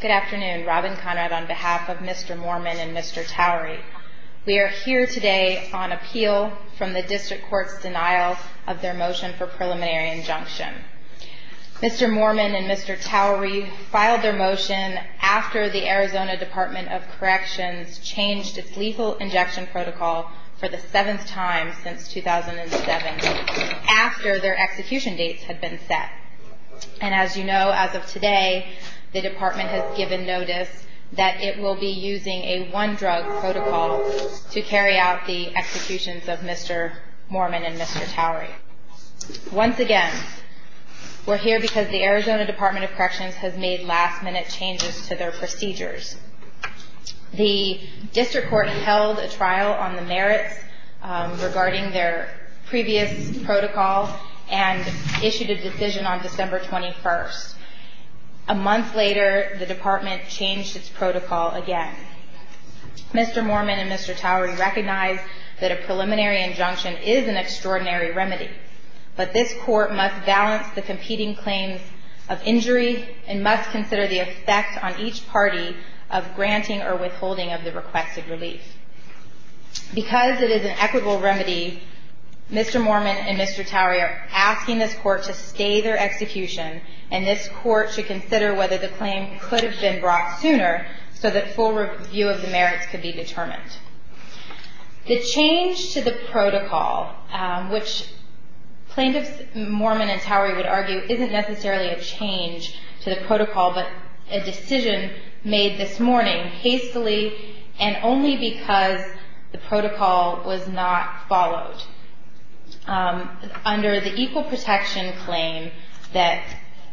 Good afternoon. Robin Conrad on behalf of Mr. Moorman and Mr. Towery. We are here today on appeal from the District Court's denial of their motion for preliminary injunction. Mr. Moorman and Mr. Towery filed their motion after the Arizona Department of Corrections changed its lethal injection protocol for the seventh time since 2007, after their execution dates had been set. And as you know, as of today, the Department has given notice that it will be using a one-drug protocol to carry out the executions of Mr. Moorman and Mr. Towery. Once again, we're here because the Arizona Department of Corrections has made last minute changes to their protocol and issued a decision on December 21st. A month later, the Department changed its protocol again. Mr. Moorman and Mr. Towery recognize that a preliminary injunction is an extraordinary remedy, but this Court must balance the competing claims of injury and must consider the effect on each party of the defendant. Mr. Moorman and Mr. Towery are asking this Court to stay their execution, and this Court should consider whether the claim could have been brought sooner so that full review of the merits could be determined. The change to the protocol, which plaintiffs Moorman and Towery would argue isn't necessarily a change to the protocol, but a decision made this morning hastily and only because the protocol was not followed. Under the equal protection claim that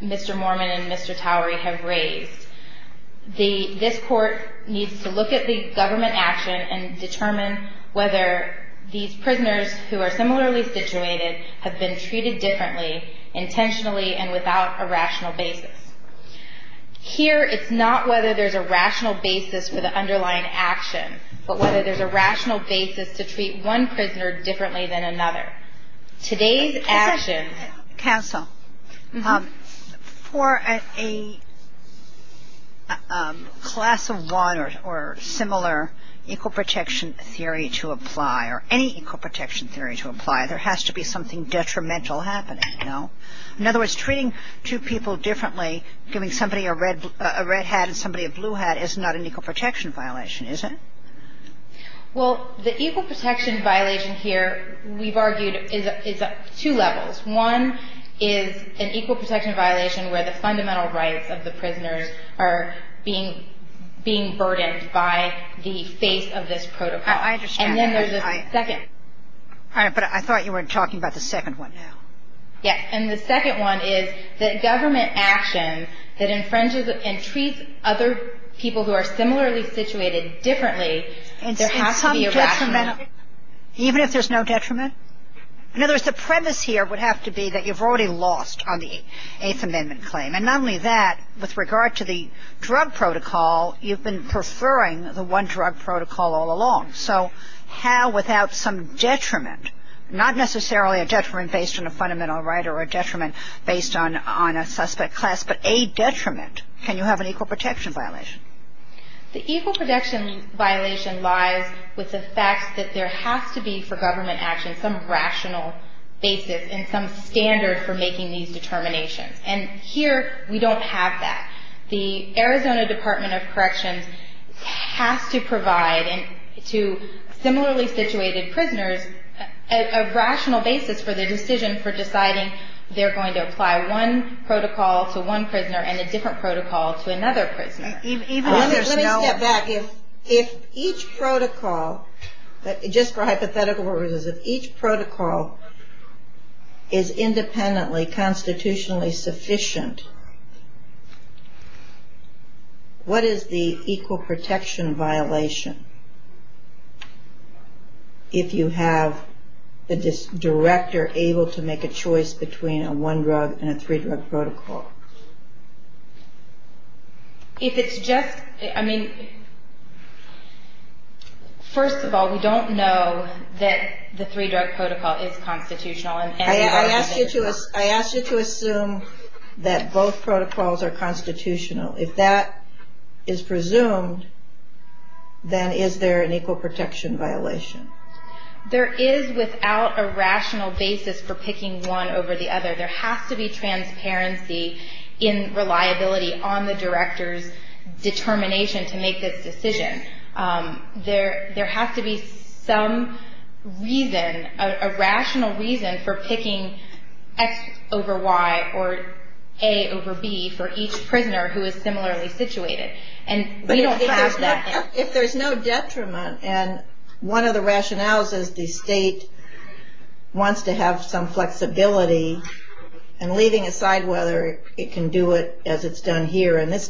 Mr. Moorman and Mr. Towery have raised, this Court needs to look at the government action and determine whether these prisoners who are Here, it's not whether there's a rational basis for the underlying action, but whether there's a rational basis to treat one prisoner differently than another. Today's action... Counsel, for a class of one or similar equal protection theory to apply or any equal protection theory to apply, there has to be something detrimental happening, no? In other words, treating two people differently, giving somebody a red hat and somebody a blue hat is not an equal protection violation, is it? Well, the equal protection violation here, we've argued, is two levels. One is an equal protection violation where the fundamental rights of the prisoners are being burdened by the face of this protocol. I understand that. And then there's a second. All right. But I thought you were talking about the second one now. Yes. And the second one is that government action that infringes and treats other people who are similarly situated differently, there has to be a rational Even if there's no detriment? In other words, the premise here would have to be that you've already lost on the Eighth Amendment claim. And not only that, with regard to the drug protocol, you've been preferring the one drug protocol all along. So how, without some detriment, not necessarily a detriment based on a fundamental right or a detriment based on a suspect class, but a detriment, can you have an equal protection violation? The equal protection violation lies with the fact that there has to be, for government action, some rational basis and some standard for making these determinations. And here we don't have that. The Arizona Department of Corrections has to provide to similarly situated prisoners a rational basis for the decision for deciding they're going to apply one protocol to one prisoner and a different protocol to another prisoner. Let me step back. If each protocol, just for hypothetical purposes, if each protocol is independently constitutionally sufficient, what is the equal First of all, we don't know that the three drug protocol is constitutional. I ask you to assume that both protocols are constitutional. If that is presumed, then is there an equal protection violation? There is without a rational basis for picking one over the other. There has to be transparency in reliability on the director's determination to make this decision. There has to be some reason, a rational reason, for picking X over Y or A over B for each prisoner who is similarly situated. If there's no detriment, and one of the rationales is the state wants to have some flexibility, and leaving aside whether it can do it as it's done here in this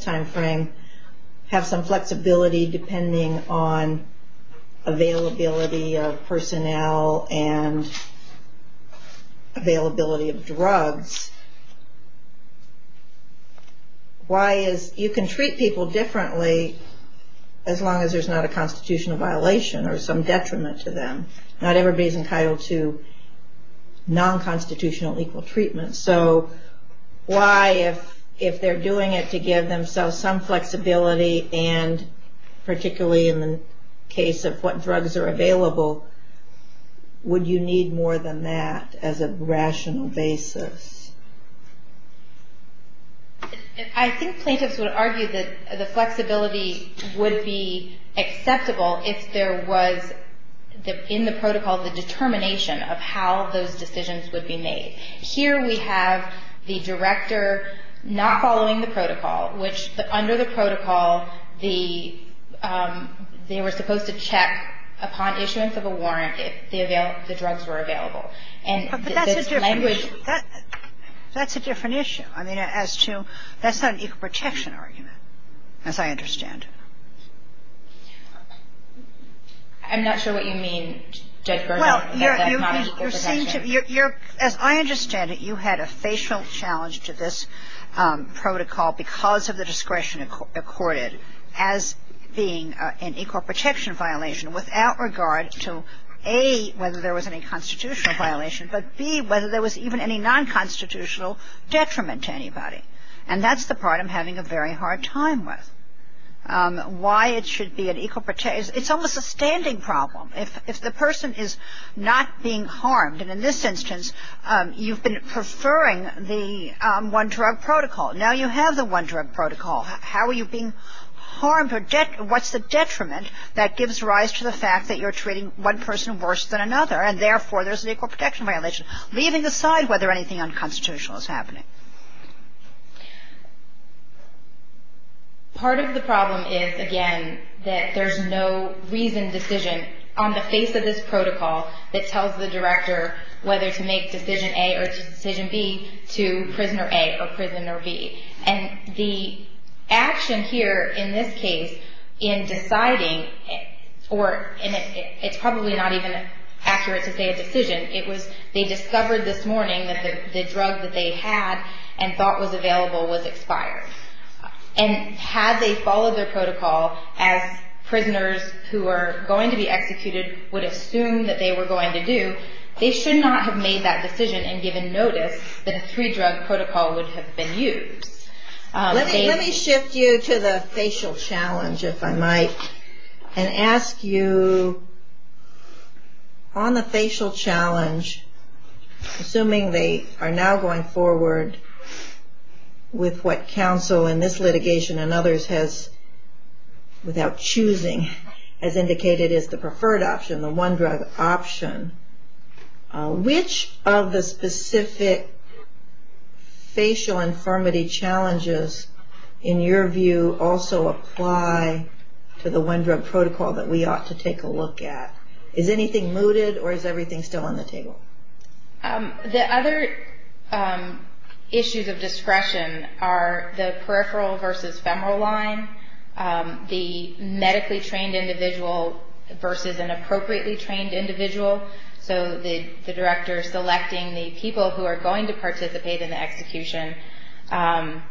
as long as there's not a constitutional violation or some detriment to them. Not everybody's entitled to non-constitutional equal treatment. So why, if they're doing it to give themselves some flexibility, and particularly in the case of what drugs are available, would you need more than that as a would be acceptable if there was, in the protocol, the determination of how those decisions would be made? Here we have the director not following the protocol, which under the protocol, they were supposed to check upon issuance of a warrant if the drugs were available. But that's a different issue. I mean, as to, that's not an equal protection argument, as I understand it. I'm not sure what you mean, Judge Bergeron, that that's not an equal protection argument. Well, as I understand it, you had a facial challenge to this protocol because of the discretion accorded as being an equal protection violation without regard to, A, whether there was any constitutional violation, but, B, whether there was even any non-constitutional detriment to anybody. And that's the part I'm having a very hard time with. Why it should be an equal protection, it's almost a standing problem. If the person is not being harmed, and in this instance, you've been preferring the one-drug protocol. Now you have the one-drug protocol. How are you being harmed? What's the detriment that gives rise to the fact that you're treating one person worse than another, and therefore there's an equal protection violation, leaving aside whether anything unconstitutional is happening? Part of the problem is, again, that there's no reasoned decision on the face of this protocol that tells the director whether to make decision A or decision B to prisoner A or prisoner B. And the action here in this case in deciding, or it's probably not even accurate to say a decision, it was they discovered this morning that the drug that they had and thought was available was expired. And had they followed their protocol as prisoners who are going to be executed would assume that they were going to do, they should not have made that decision and given notice that a three-drug protocol would have been used. Let me shift you to the facial challenge, if I might, and ask you, on the facial challenge, assuming they are now going forward with what counsel in this litigation and others has, without choosing, as indicated is the preferred option, the one-drug option, which of the specific facial infirmity challenges, in your view, also apply to the one-drug protocol that we ought to take a look at? Is anything mooted or is everything still on the table? The other issues of discretion are the peripheral versus femoral line, the medically trained individual versus an appropriately trained individual. So the director selecting the people who are going to participate in the execution. And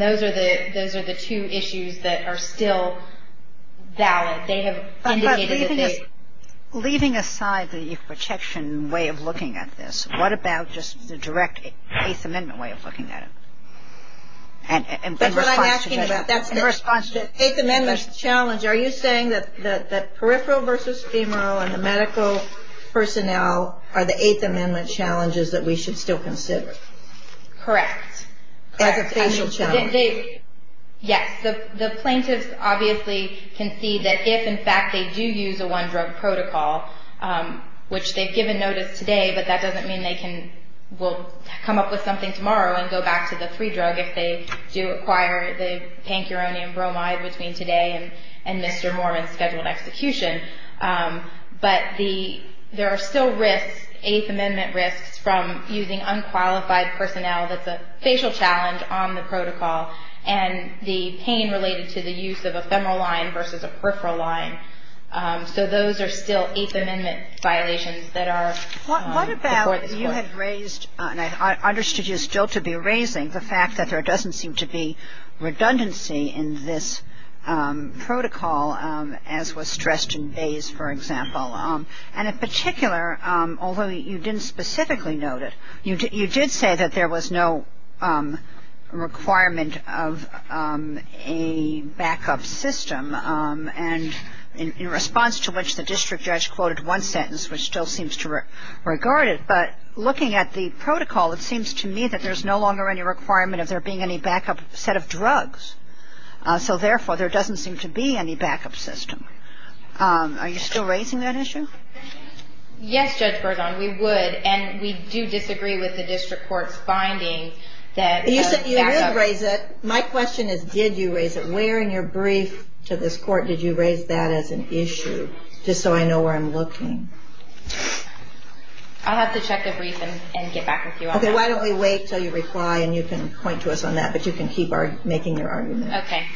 those are the two issues that are still valid. But leaving aside the protection way of looking at this, what about just the direct Eighth Amendment way of looking at it? And in response to the Eighth Amendment challenge, are you saying that peripheral versus femoral and the medical personnel are the Eighth Amendment challenges that we should still consider? Correct. As a facial challenge. Yes. The plaintiffs obviously can see that if, in fact, they do use a one-drug protocol, which they've given notice today, but that doesn't mean they will come up with something tomorrow and go back to the free drug if they do acquire the pancuronium bromide between today and Mr. Mormon's scheduled execution. But there are still risks, Eighth Amendment risks, from using unqualified personnel that's a facial challenge on the protocol and the pain related to the use of a femoral line versus a peripheral line. So those are still Eighth Amendment violations that are before this Court. What about you had raised, and I understood you still to be raising, the fact that there doesn't seem to be redundancy in this protocol, as was stressed in Bayes, for example. And in particular, although you didn't specifically note it, you did say that there was no requirement of a backup system. And in response to which, the district judge quoted one sentence, which still seems to regard it. But looking at the protocol, it seems to me that there's no longer any requirement of there being any backup set of drugs. So therefore, there doesn't seem to be any backup system. Are you still raising that issue? Yes, Judge Berzon. We would. And we do disagree with the district court's finding that backup. You said you did raise it. My question is, did you raise it? Where in your brief to this Court did you raise that as an issue, just so I know where I'm looking? I'll have to check the brief and get back with you on that. Okay. Why don't we wait until you reply and you can point to us on that, but you can keep making your argument. Okay.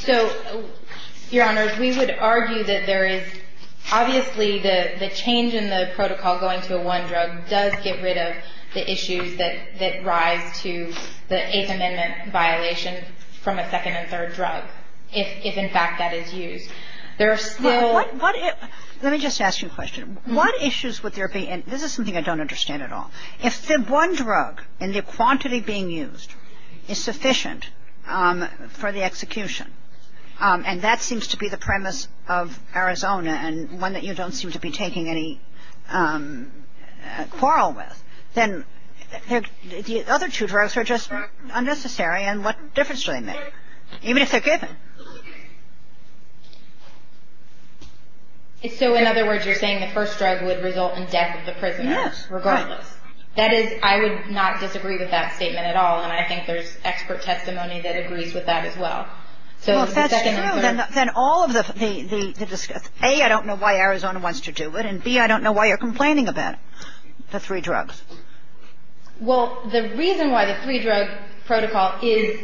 So, Your Honors, we would argue that there is obviously the change in the protocol going to a one drug does get rid of the issues that rise to the Eighth Amendment violation from a second and third drug, if in fact that is used. There are still – Let me just ask you a question. What issues would there be? And this is something I don't understand at all. If the one drug and the quantity being used is sufficient for the execution, and that seems to be the premise of Arizona and one that you don't seem to be taking any quarrel with, then the other two drugs are just unnecessary and what difference do they make, even if they're given? So, in other words, you're saying the first drug would result in death of the prisoner, regardless? Yes. Right. That is – I would not disagree with that statement at all, and I think there's expert testimony that agrees with that as well. Well, if that's true, then all of the – A, I don't know why Arizona wants to do it, and B, I don't know why you're complaining about the three drugs. Well, the reason why the three-drug protocol is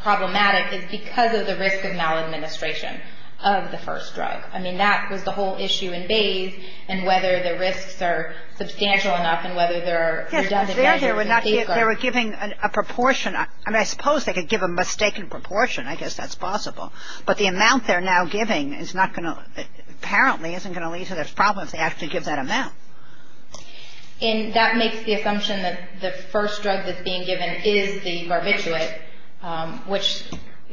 problematic is because of the risk of maladministration of the first drug. I mean, that was the whole issue in Bayes, and whether the risks are substantial enough and whether there are – Yes, because there they were not – they were giving a proportion. I mean, I suppose they could give a mistaken proportion. I guess that's possible. But the amount they're now giving is not going to – apparently isn't going to lead to those problems if they actually give that amount. And that makes the assumption that the first drug that's being given is the barbiturate, which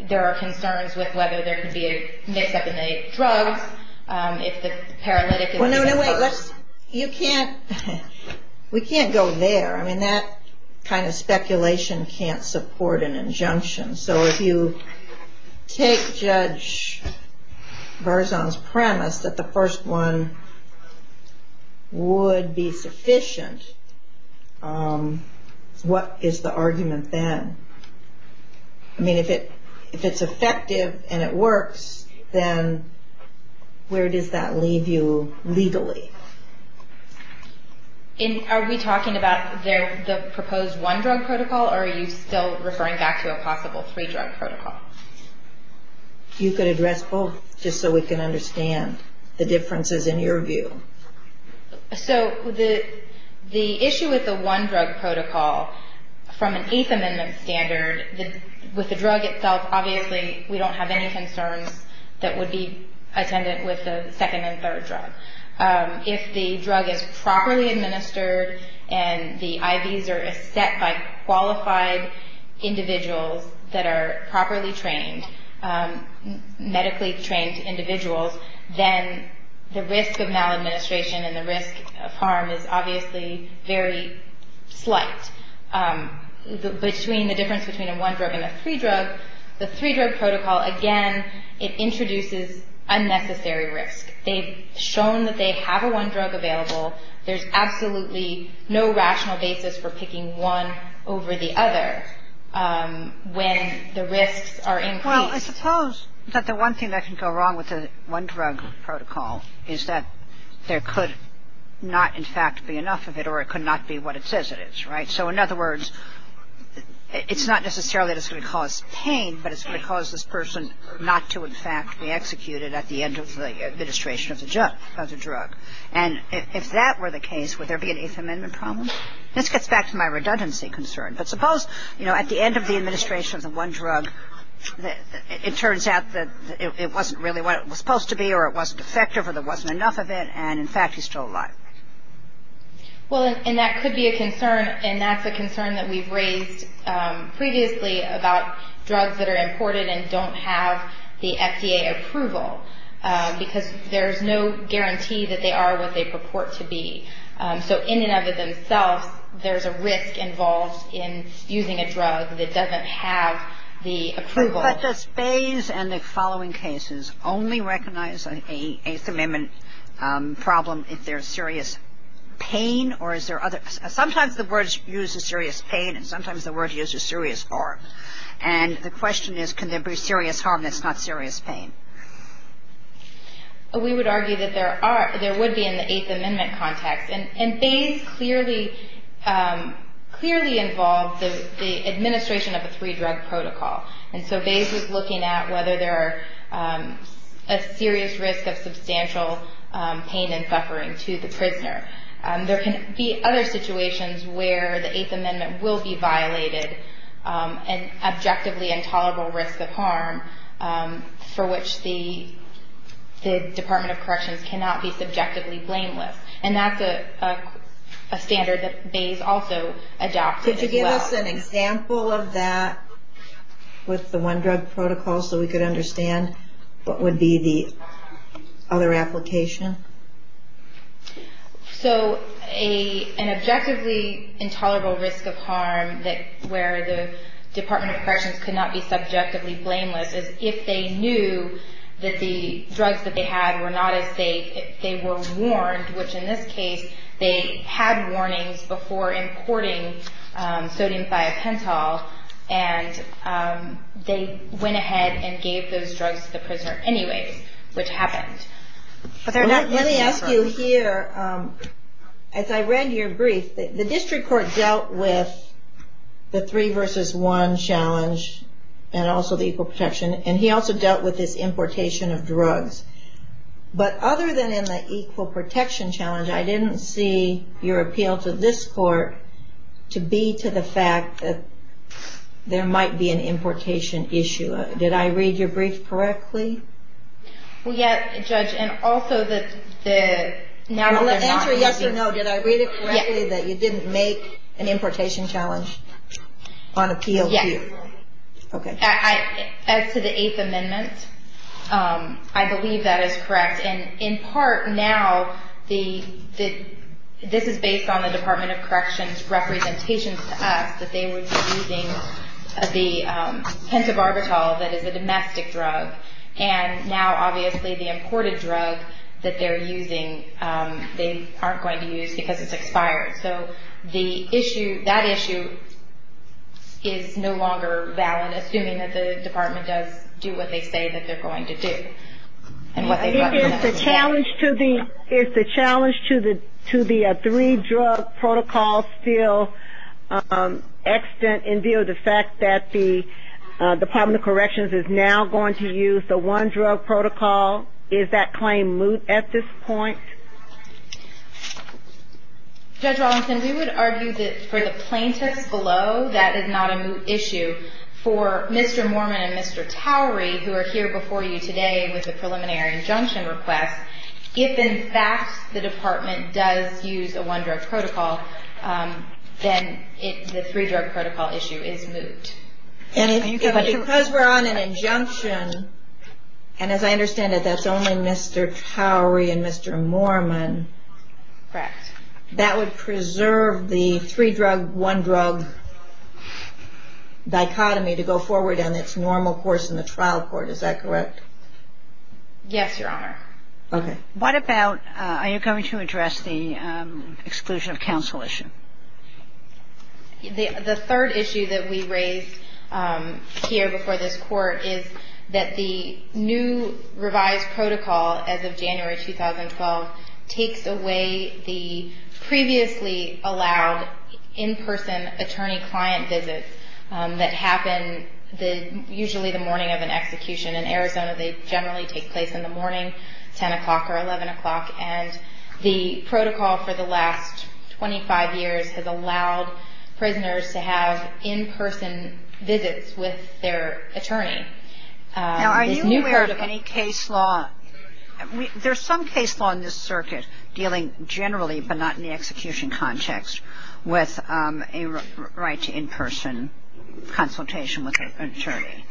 there are concerns with whether there could be a mix-up in the drugs, if the paralytic is the first. Well, no, no, wait. Let's – you can't – we can't go there. I mean, that kind of speculation can't support an injunction. So if you take Judge Barzon's premise that the first one would be sufficient, what is the argument then? I mean, if it's effective and it works, then where does that leave you legally? Are we talking about the proposed one-drug protocol, or are you still referring back to a possible three-drug protocol? You could address both, just so we can understand the differences in your view. So the issue with the one-drug protocol, from an Eighth Amendment standard, with the drug itself, obviously, we don't have any concerns that would be attendant with the second and third drug. If the drug is properly administered and the IVs are set by qualified individuals that are properly trained, medically trained individuals, then the risk of maladministration and the risk of harm is obviously very slight. Between the difference between a one-drug and a three-drug, the three-drug protocol, again, it introduces unnecessary risk. They've shown that they have a one-drug available. There's absolutely no rational basis for picking one over the other when the risks are increased. Well, I suppose that the one thing that can go wrong with the one-drug protocol is that there could not, in fact, be enough of it, or it could not be what it says it is, right? So, in other words, it's not necessarily that it's going to cause pain, but it's going to cause this person not to, in fact, be executed at the end of the administration of the drug. And if that were the case, would there be an Eighth Amendment problem? This gets back to my redundancy concern. But suppose, you know, at the end of the administration of the one drug, it turns out that it wasn't really what it was supposed to be, or it wasn't effective, or there wasn't enough of it, and, in fact, he's still alive. Well, and that could be a concern, and that's a concern that we've raised previously about drugs that are imported and don't have the FDA approval because there's no guarantee that they are what they purport to be. So in and of themselves, there's a risk involved in using a drug that doesn't have the approval. But does Bayes and the following cases only recognize an Eighth Amendment problem if there's serious pain, or is there other – sometimes the words use a serious pain, and sometimes the words use a serious harm. And the question is, can there be serious harm that's not serious pain? We would argue that there are – there would be in the Eighth Amendment context. And Bayes clearly – clearly involved the administration of a three-drug protocol. And so Bayes was looking at whether there are a serious risk of substantial pain and suffering to the prisoner. There can be other situations where the Eighth Amendment will be violated, and objectively intolerable risk of harm for which the Department of Corrections cannot be subjectively blameless. And that's a standard that Bayes also adopted as well. Could you give us an example of that with the one-drug protocol so we could understand what would be the other application? So an objectively intolerable risk of harm where the Department of Corrections could not be subjectively blameless is if they knew that the drugs that they had were not as safe, they were warned, which in this case they had warnings before importing sodium thiopental, and they went ahead and gave those drugs to the prisoner anyways, which happened. Let me ask you here, as I read your brief, the district court dealt with the three-versus-one challenge and also the equal protection, and he also dealt with this importation of drugs. But other than in the equal protection challenge, I didn't see your appeal to this court to be to the fact that there might be an importation issue. Did I read your brief correctly? Well, yes, Judge, and also the... Well, answer yes or no. Did I read it correctly that you didn't make an importation challenge on appeal? Yes. Okay. As to the Eighth Amendment, I believe that is correct. And in part now, this is based on the Department of Corrections' representations to us that they were using the pentobarbital that is a domestic drug, and now obviously the imported drug that they're using they aren't going to use because it's expired. So that issue is no longer valid, assuming that the department does do what they say that they're going to do. I think it's a challenge to the three-drug protocol still extant in view of the fact that the Department of Corrections is now going to use the one-drug protocol. Is that claim moot at this point? Judge Rawlinson, we would argue that for the plaintiffs below, that is not a moot issue. For Mr. Mormon and Mr. Towery, who are here before you today with a preliminary injunction request, if in fact the department does use a one-drug protocol, then the three-drug protocol issue is moot. And because we're on an injunction, and as I understand it, that's only Mr. Towery and Mr. Mormon, that would preserve the three-drug, one-drug dichotomy to go forward in its normal course in the trial court. Is that correct? Yes, Your Honor. Okay. What about, are you going to address the exclusion of counsel issue? The third issue that we raised here before this Court is that the new revised protocol as of January 2012 takes away the previously allowed in-person attorney-client visits that happen usually the morning of an execution. In Arizona, they generally take place in the morning, 10 o'clock or 11 o'clock. And the protocol for the last 25 years has allowed prisoners to have in-person visits with their attorney. Now, are you aware of any case law? There's some case law in this circuit dealing generally but not in the execution context with a right to in-person consultation with an attorney.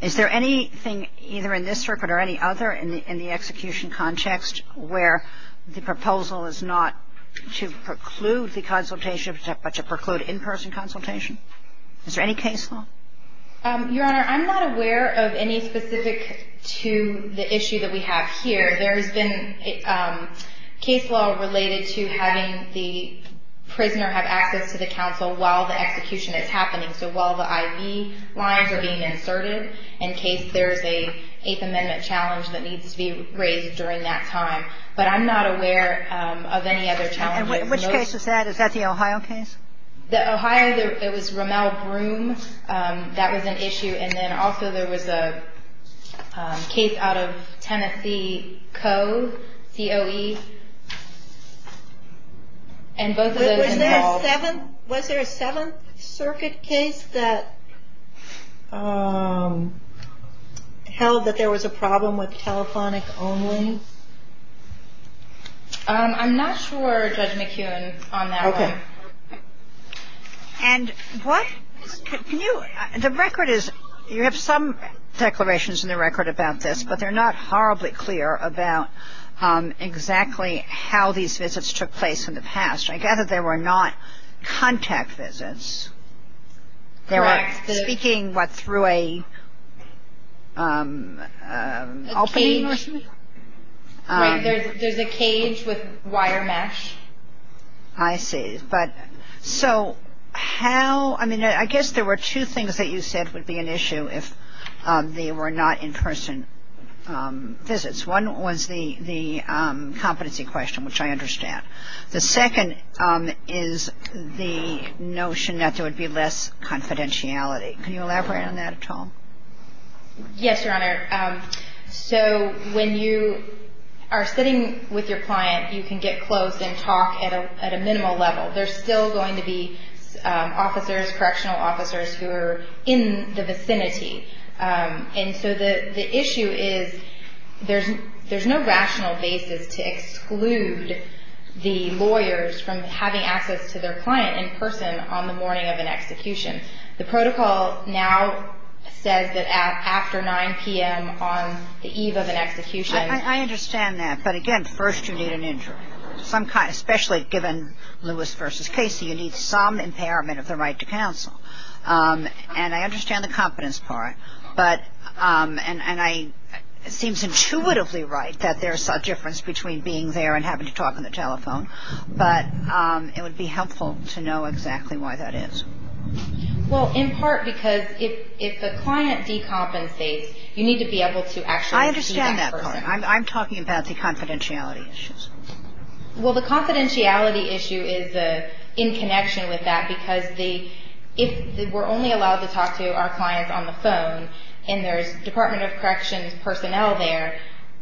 Is there anything either in this circuit or any other in the execution context where the proposal is not to preclude the consultation but to preclude in-person consultation? Is there any case law? Your Honor, I'm not aware of any specific to the issue that we have here. There's been case law related to having the prisoner have access to the counsel while the execution is happening. So while the IV lines are being inserted, in case there's an Eighth Amendment challenge that needs to be raised during that time. But I'm not aware of any other challenges. And which case is that? Is that the Ohio case? The Ohio, it was Rommel-Broom. That was an issue. And then also there was a case out of Tennessee Coe, C-O-E. And both of those involved. Was there a Seventh Circuit case that held that there was a problem with telephonic only? I'm not sure, Judge McKeown, on that one. Okay. And what is, can you, the record is, you have some declarations in the record about this, but they're not horribly clear about exactly how these visits took place in the past. I gather there were not contact visits. Correct. Speaking, what, through a opening or something? Right. There's a cage with wire mesh. I see. But so how, I mean, I guess there were two things that you said would be an issue if they were not in-person visits. One was the competency question, which I understand. The second is the notion that there would be less confidentiality. Can you elaborate on that at all? Yes, Your Honor. So when you are sitting with your client, you can get close and talk at a minimal level. There's still going to be officers, correctional officers, who are in the vicinity. And so the issue is there's no rational basis to exclude the lawyers from having access to their client in person on the morning of an execution. The protocol now says that after 9 p.m. on the eve of an execution. I understand that. But, again, first you need an injury, some kind, especially given Lewis v. Casey, And I understand the confidence part. And it seems intuitively right that there's a difference between being there and having to talk on the telephone. But it would be helpful to know exactly why that is. Well, in part because if the client decompensates, you need to be able to actually see that person. I understand that part. I'm talking about the confidentiality issues. Well, the confidentiality issue is in connection with that because if we're only allowed to talk to our clients on the phone, and there's Department of Corrections personnel there,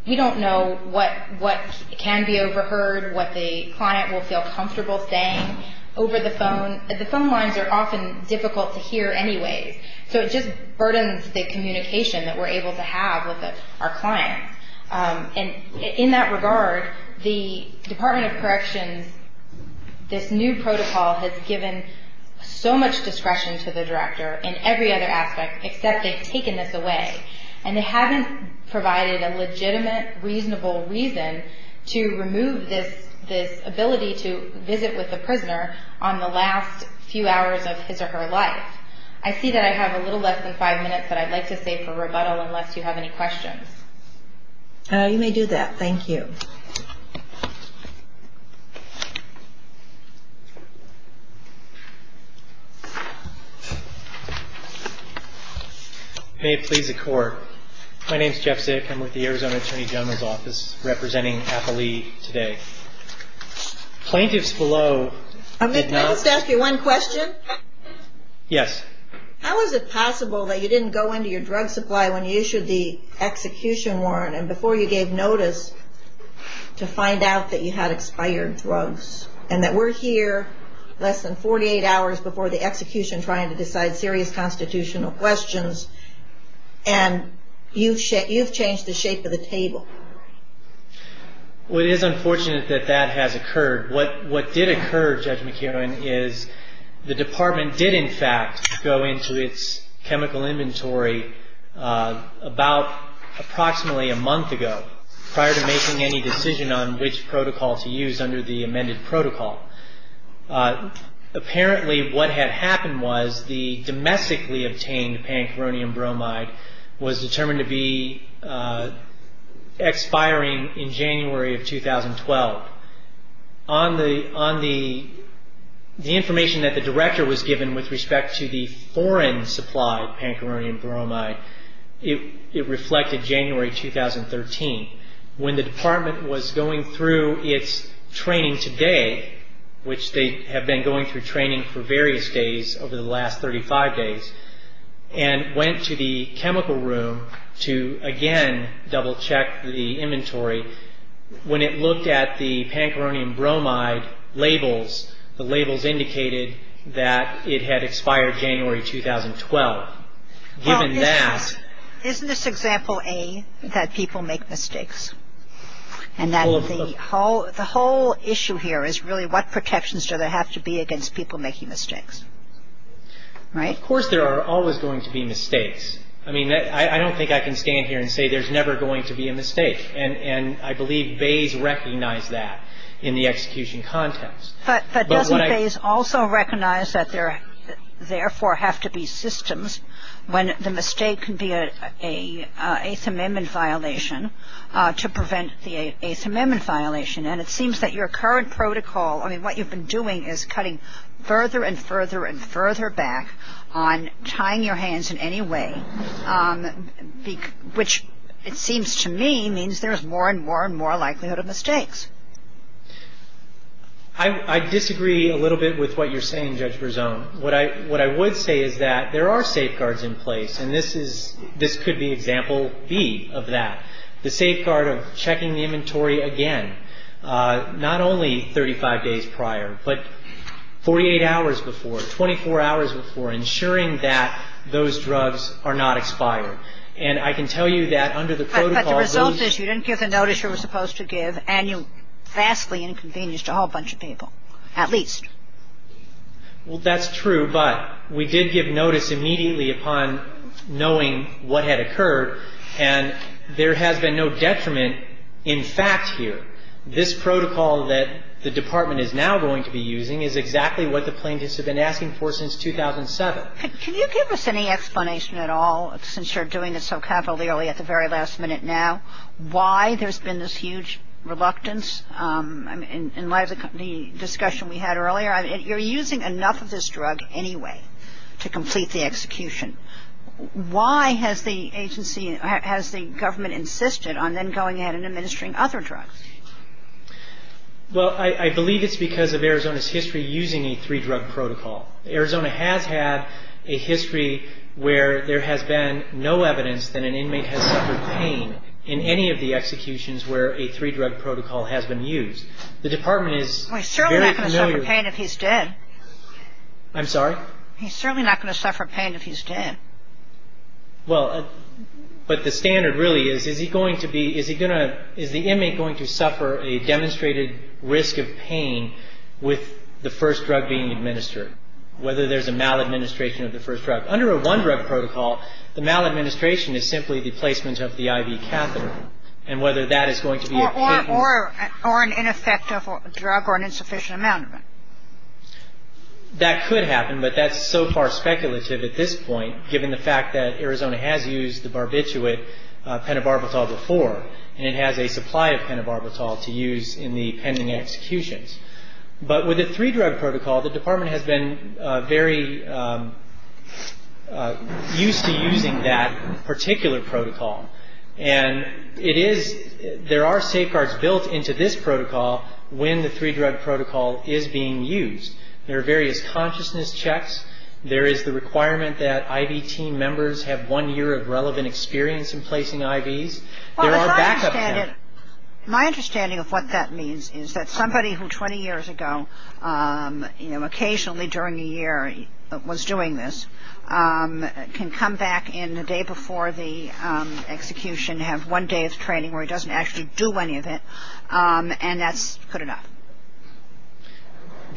we don't know what can be overheard, what the client will feel comfortable saying over the phone. The phone lines are often difficult to hear anyways. So it just burdens the communication that we're able to have with our clients. And in that regard, the Department of Corrections, this new protocol has given so much discretion to the director in every other aspect except they've taken this away. And they haven't provided a legitimate, reasonable reason to remove this ability to visit with the prisoner on the last few hours of his or her life. I see that I have a little less than five minutes that I'd like to save for rebuttal unless you have any questions. You may do that. Thank you. May it please the Court. My name's Jeff Zick. I'm with the Arizona Attorney General's Office representing Appalee today. Plaintiffs below did not... May I just ask you one question? Yes. How is it possible that you didn't go into your drug supply when you issued the execution warrant and before you gave notice to find out that you had expired drugs and that we're here less than 48 hours before the execution trying to decide serious constitutional questions and you've changed the shape of the table? Well, it is unfortunate that that has occurred. What did occur, Judge McKeown, is the Department did in fact go into its chemical inventory about approximately a month ago prior to making any decision on which protocol to use under the amended protocol. Apparently what had happened was the domestically obtained pancaronium bromide was determined to be expiring in January of 2012. On the information that the Director was given with respect to the foreign-supplied pancaronium bromide, it reflected January 2013. When the Department was going through its training today, which they have been going through training for various days over the last 35 days, and went to the chemical room to again double-check the inventory, when it looked at the pancaronium bromide labels, the labels indicated that it had expired January 2012. Given that... Well, isn't this example A, that people make mistakes? And that the whole issue here is really what protections do they have to be against people making mistakes? Right? Of course there are always going to be mistakes. I mean, I don't think I can stand here and say there's never going to be a mistake. And I believe Bays recognized that in the execution context. But doesn't Bays also recognize that there therefore have to be systems when the mistake can be an Eighth Amendment violation to prevent the Eighth Amendment violation? And it seems that your current protocol, I mean, what you've been doing is cutting further and further and further back on tying your hands in any way, which it seems to me means there's more and more and more likelihood of mistakes. I disagree a little bit with what you're saying, Judge Berzon. What I would say is that there are safeguards in place, and this could be example B of that. The safeguard of checking the inventory again, not only 35 days prior, but 48 hours before, 24 hours before, ensuring that those drugs are not expired. And I can tell you that under the protocol those – But the result is you didn't give the notice you were supposed to give, and you vastly inconvenienced a whole bunch of people, at least. Well, that's true. But we did give notice immediately upon knowing what had occurred, and there has been no detriment in fact here. This protocol that the Department is now going to be using is exactly what the plaintiffs have been asking for since 2007. Can you give us any explanation at all, since you're doing it so cavalierly at the very last minute now, why there's been this huge reluctance in light of the discussion we had earlier? I mean, you're using enough of this drug anyway to complete the execution. Why has the agency – has the government insisted on then going ahead and administering other drugs? Well, I believe it's because of Arizona's history using a three-drug protocol. Arizona has had a history where there has been no evidence that an inmate has suffered pain in any of the executions where a three-drug protocol has been used. The Department is very familiar with – Well, he's certainly not going to suffer pain if he's dead. I'm sorry? He's certainly not going to suffer pain if he's dead. Well, but the standard really is, is he going to be – is he going to – is the inmate going to suffer a demonstrated risk of pain with the first drug being administered, whether there's a maladministration of the first drug? Under a one-drug protocol, the maladministration is simply the placement of the IV catheter, and whether that is going to be a – Or an ineffective drug or an insufficient amount of it. That could happen, but that's so far speculative at this point, given the fact that Arizona has used the barbiturate pentobarbital before, and it has a supply of pentobarbital to use in the pending executions. But with a three-drug protocol, the Department has been very used to using that particular protocol, and it is – there are safeguards built into this protocol when the three-drug protocol is being used. There are various consciousness checks. There is the requirement that IV team members have one year of relevant experience in placing IVs. There are backup – My understanding of what that means is that somebody who 20 years ago, you know, one day of training where he doesn't actually do any of it, and that's good enough.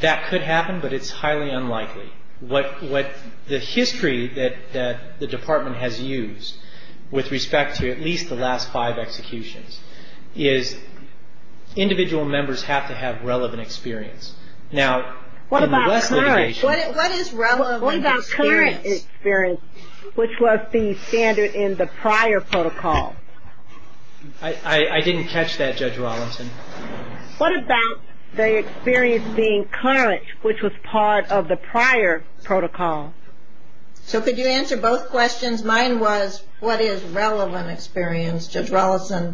That could happen, but it's highly unlikely. What the history that the Department has used with respect to at least the last five executions is individual members have to have relevant experience. Now, in the West litigation – What about current – What is relevant experience? which was the standard in the prior protocol? I didn't catch that, Judge Rollinson. What about the experience being current, which was part of the prior protocol? So could you answer both questions? Mine was what is relevant experience? Judge Rollinson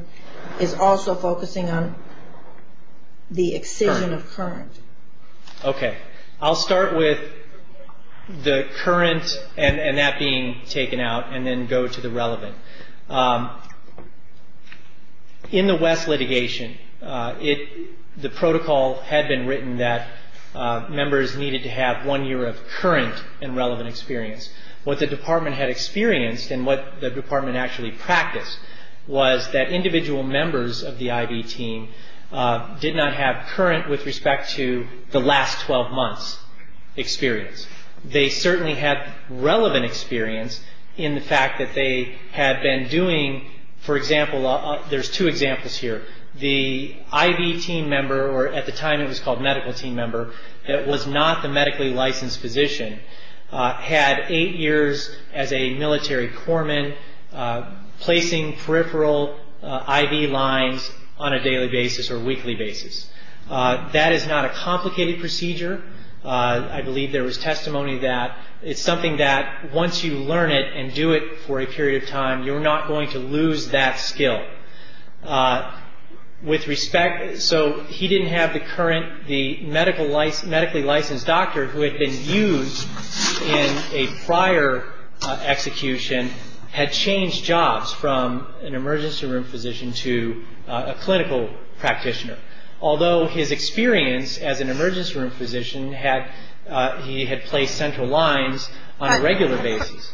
is also focusing on the excision of current. Okay. I'll start with the current and that being taken out, and then go to the relevant. In the West litigation, the protocol had been written that members needed to have one year of current and relevant experience. What the Department had experienced, and what the Department actually practiced, was that individual members of the IV team did not have current with respect to the last 12 months experience. They certainly had relevant experience in the fact that they had been doing – For example, there's two examples here. The IV team member, or at the time it was called medical team member, that was not the medically licensed physician, had eight years as a military corpsman placing peripheral IV lines on a daily basis or weekly basis. That is not a complicated procedure. I believe there was testimony that it's something that once you learn it and do it for a period of time, you're not going to lose that skill. With respect – so he didn't have the current – the medically licensed doctor who had been used in a prior execution had changed jobs from an emergency room physician to a clinical practitioner. Although his experience as an emergency room physician had – he had placed central lines on a regular basis.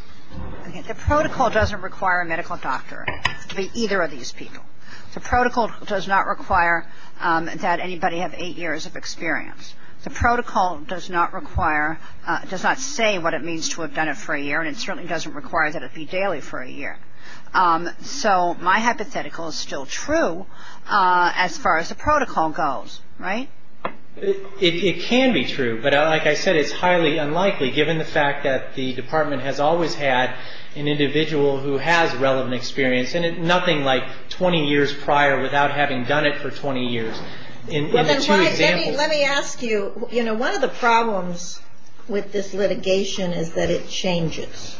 The protocol doesn't require a medical doctor to be either of these people. The protocol does not require that anybody have eight years of experience. The protocol does not require – does not say what it means to have done it for a year, and it certainly doesn't require that it be daily for a year. So my hypothetical is still true as far as the protocol goes, right? It can be true, but like I said, it's highly unlikely, given the fact that the department has always had an individual who has relevant experience, and nothing like 20 years prior without having done it for 20 years. Let me ask you, you know, one of the problems with this litigation is that it changes.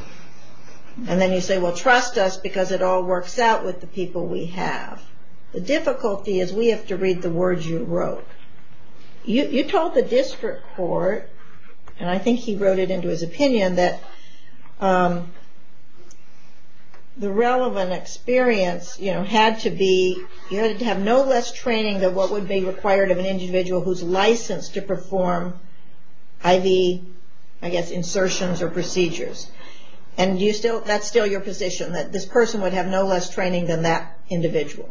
And then you say, well, trust us because it all works out with the people we have. The difficulty is we have to read the words you wrote. You told the district court, and I think he wrote it into his opinion, that the relevant experience, you know, had to be – you had to have no less training than what would be required of an individual who's licensed to perform IV, I guess, insertions or procedures. And that's still your position, that this person would have no less training than that individual?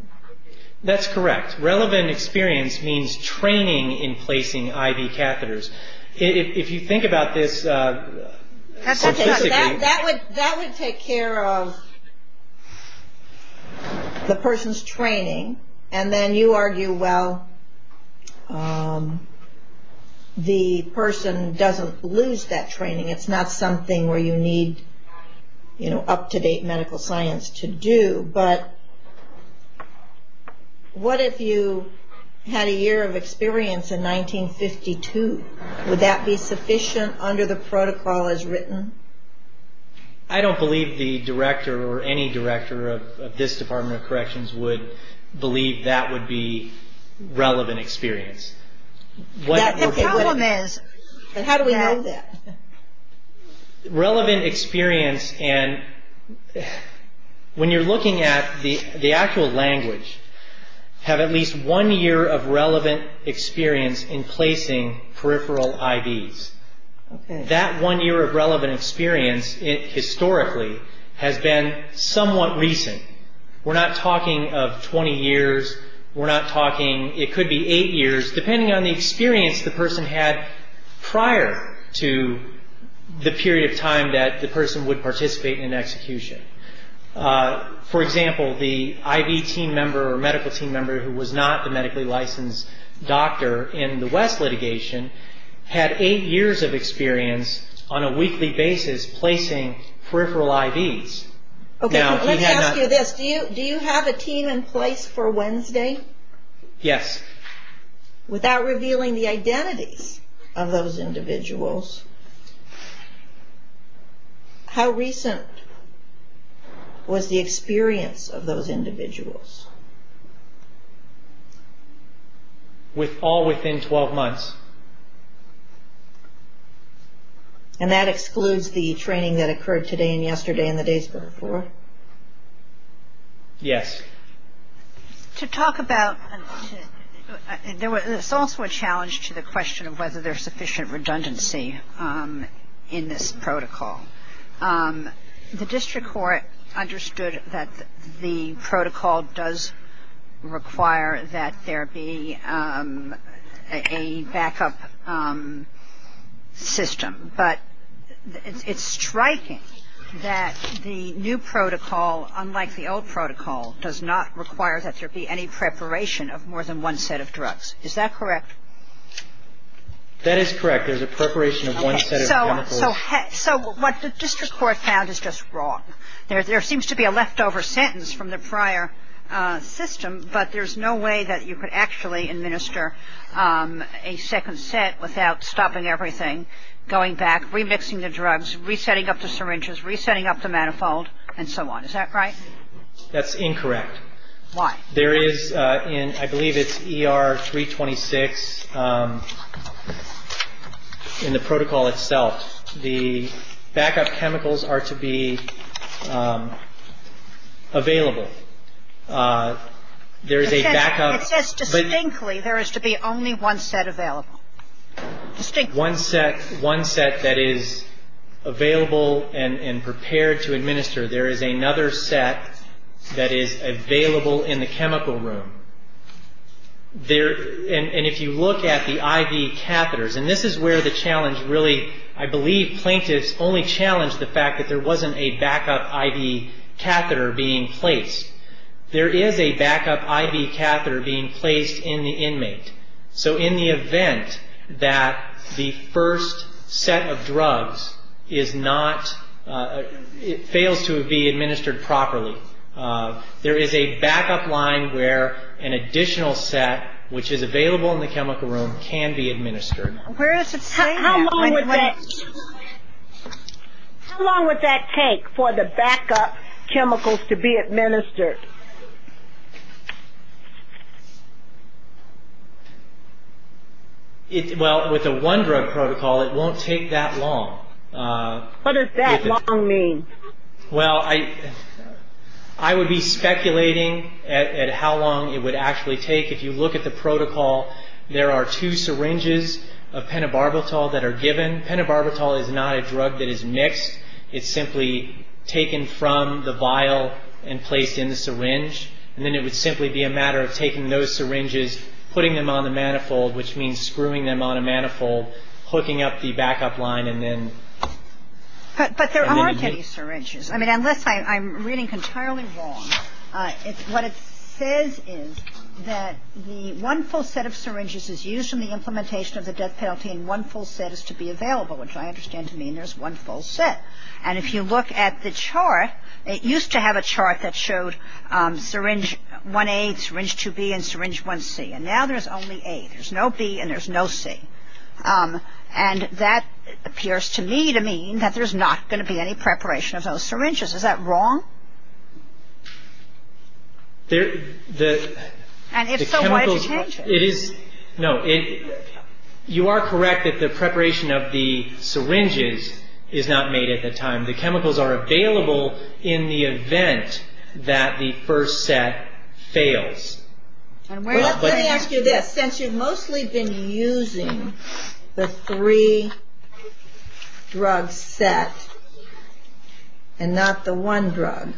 That's correct. Relevant experience means training in placing IV catheters. If you think about this statistically – That would take care of the person's training, and then you argue, well, the person doesn't lose that training. It's not something where you need, you know, up-to-date medical science to do. But what if you had a year of experience in 1952? Would that be sufficient under the protocol as written? I don't believe the director or any director of this Department of Corrections would believe that would be relevant experience. The problem is, how do we know that? Relevant experience and – when you're looking at the actual language, have at least one year of relevant experience in placing peripheral IVs. That one year of relevant experience, historically, has been somewhat recent. We're not talking of 20 years. We're not talking – it could be eight years, depending on the experience the person had prior to the period of time that the person would participate in an execution. For example, the IV team member or medical team member who was not the medically licensed doctor in the West litigation had eight years of experience on a weekly basis placing peripheral IVs. Let me ask you this. Do you have a team in place for Wednesday? Yes. Without revealing the identities of those individuals, how recent was the experience of those individuals? All within 12 months. And that excludes the training that occurred today and yesterday and the days before? Yes. To talk about – there's also a challenge to the question of whether there's sufficient redundancy in this protocol. The district court understood that the protocol does require that there be a backup system. But it's striking that the new protocol, unlike the old protocol, does not require that there be any preparation of more than one set of drugs. Is that correct? That is correct. There's a preparation of one set of chemicals. So what the district court found is just wrong. There seems to be a leftover sentence from the prior system, but there's no way that you could actually administer a second set without stopping everything, going back, remixing the drugs, resetting up the syringes, resetting up the manifold, and so on. Is that right? That's incorrect. Why? There is – I believe it's ER-326 in the protocol itself. The backup chemicals are to be available. There is a backup. It says distinctly there is to be only one set available. Distinctly. One set that is available and prepared to administer. There is another set that is available in the chemical room. And if you look at the IV catheters, and this is where the challenge really, I believe plaintiffs only challenged the fact that there wasn't a backup IV catheter being placed. There is a backup IV catheter being placed in the inmate. So in the event that the first set of drugs is not – fails to be administered properly, there is a backup line where an additional set, which is available in the chemical room, can be administered. Where is it saying that? How long would that take for the backup chemicals to be administered? Well, with a one-drug protocol, it won't take that long. What does that long mean? Well, I would be speculating at how long it would actually take. If you look at the protocol, there are two syringes of pentobarbital that are given. Pentobarbital is not a drug that is mixed. It's simply taken from the vial and placed in the syringe. And then it would simply be a matter of taking those syringes, putting them on the manifold, which means screwing them on a manifold, hooking up the backup line, and then – But there aren't any syringes. I mean, unless I'm reading entirely wrong. What it says is that the one full set of syringes is used in the implementation of the death penalty and one full set is to be available, which I understand to mean there's one full set. And if you look at the chart, it used to have a chart that showed syringe 1A, syringe 2B, and syringe 1C. And now there's only A. There's no B and there's no C. And that appears to me to mean that there's not going to be any preparation of those syringes. Is that wrong? And if so, why did you change it? No, you are correct that the preparation of the syringes is not made at the time. The chemicals are available in the event that the first set fails. Let me ask you this. Since you've mostly been using the three-drug set and not the one drug,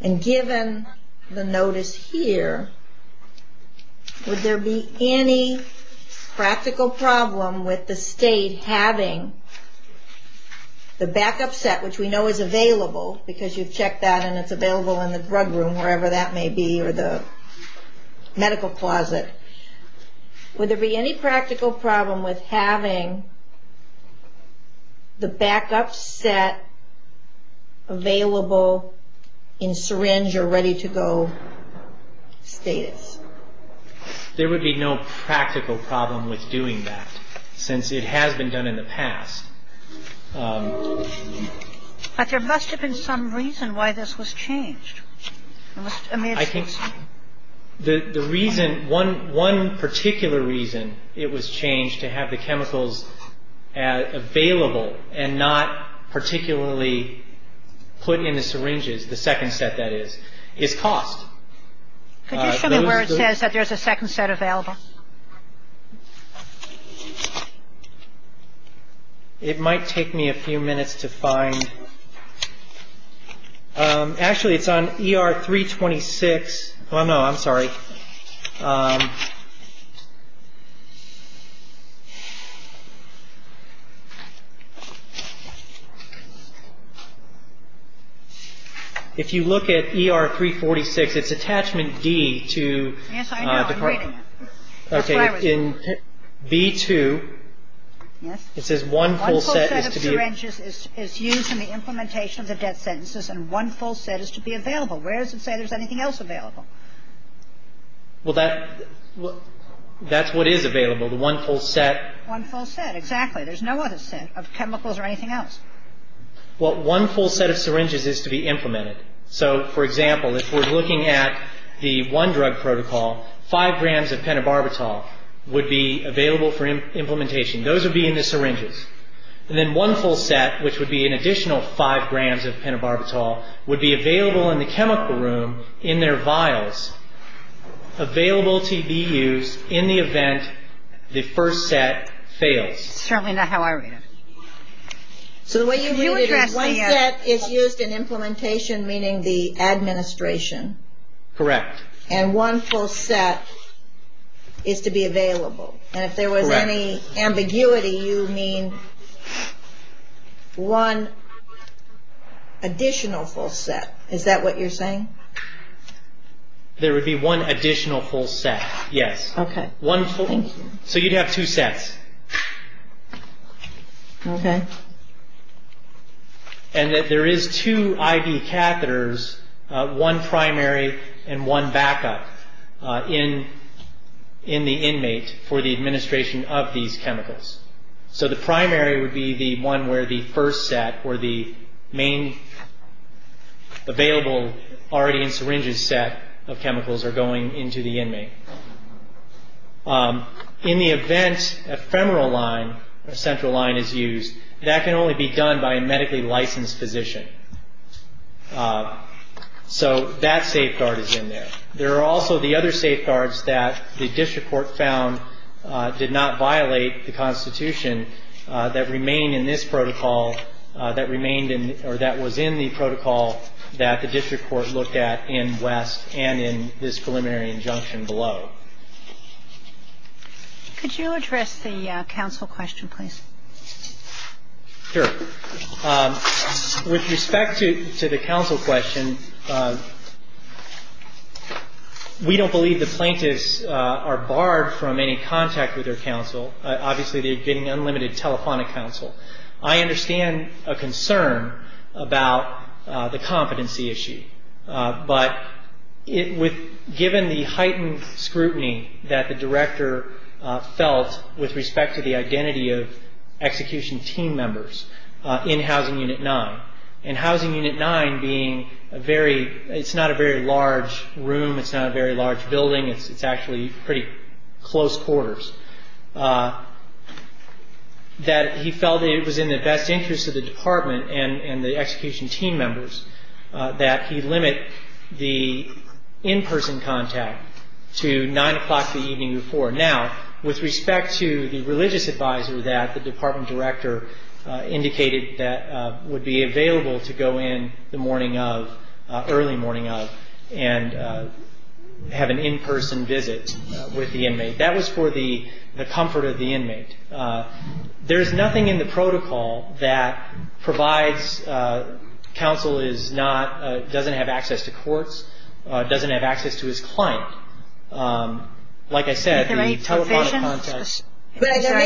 and given the notice here, would there be any practical problem with the state having the backup set, which we know is available because you've checked that and it's available in the drug room, wherever that may be, or the medical closet, would there be any practical problem with having the backup set available in syringe or ready-to-go status? There would be no practical problem with doing that, since it has been done in the past. But there must have been some reason why this was changed. I think the reason, one particular reason it was changed to have the chemicals available and not particularly put in the syringes, the second set, that is, is cost. Could you show me where it says that there's a second set available? It might take me a few minutes to find. Actually, it's on ER-326. Oh, no, I'm sorry. If you look at ER-346, it's attachment D to the… Yes, I know. Okay, in V2, it says one full set is to be… One full set of syringes is used in the implementation of the death sentences, and one full set is to be available. Where does it say there's anything else available? Well, that's what is available, the one full set. One full set, exactly. There's no other set of chemicals or anything else. Well, one full set of syringes is to be implemented. So, for example, if we're looking at the one drug protocol, five grams of pentobarbital would be available for implementation. Those would be in the syringes. And then one full set, which would be an additional five grams of pentobarbital, would be available in the chemical room in their vials, available to be used in the event the first set fails. It's certainly not how I read it. So the way you read it is one set is used in implementation, meaning the administration. Correct. And one full set is to be available. Correct. And if there was any ambiguity, you mean one additional full set. Is that what you're saying? There would be one additional full set, yes. Okay, thank you. So you'd have two sets. Okay. And that there is two IV catheters, one primary and one backup, in the inmate for the administration of these chemicals. So the primary would be the one where the first set, where the main available already in syringes set of chemicals are going into the inmate. In the event a femoral line, a central line is used, that can only be done by a medically licensed physician. So that safeguard is in there. There are also the other safeguards that the district court found did not violate the Constitution that remain in this protocol that remained in or that was in the protocol that the district court looked at in West and in this preliminary injunction below. Could you address the counsel question, please? Sure. With respect to the counsel question, we don't believe the plaintiffs are barred from any contact with their counsel. Obviously, they're getting unlimited telephonic counsel. I understand a concern about the competency issue, but given the heightened scrutiny that the director felt with respect to the identity of execution team members in Housing Unit 9, and Housing Unit 9 being a very, it's not a very large room, it's not a very large building, it's actually pretty close quarters, that he felt it was in the best interest of the department and the execution team members that he limit the in-person contact to 9 o'clock the evening before. Now, with respect to the religious advisor that the department director indicated that would be available to go in the morning of, early morning of, and have an in-person visit with the inmate, that was for the comfort of the inmate. There's nothing in the protocol that provides counsel is not, doesn't have access to courts, doesn't have access to his client. Like I said, the telephonic contact. There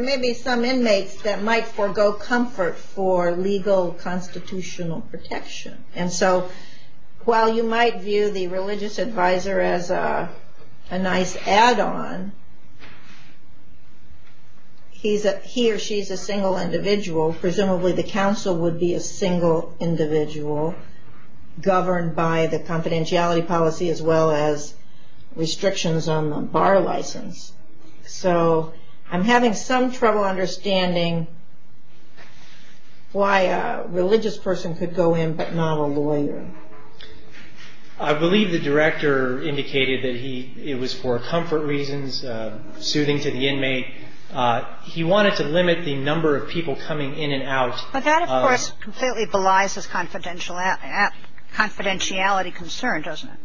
may be some inmates that might forego comfort for legal constitutional protection. And so, while you might view the religious advisor as a nice add-on, he or she is a single individual, presumably the counsel would be a single individual, governed by the confidentiality policy as well as restrictions on the bar license. So, I'm having some trouble understanding why a religious person could go in but not a lawyer. I believe the director indicated that he, it was for comfort reasons, suiting to the inmate. He wanted to limit the number of people coming in and out. But that, of course, completely belies his confidentiality concern, doesn't it?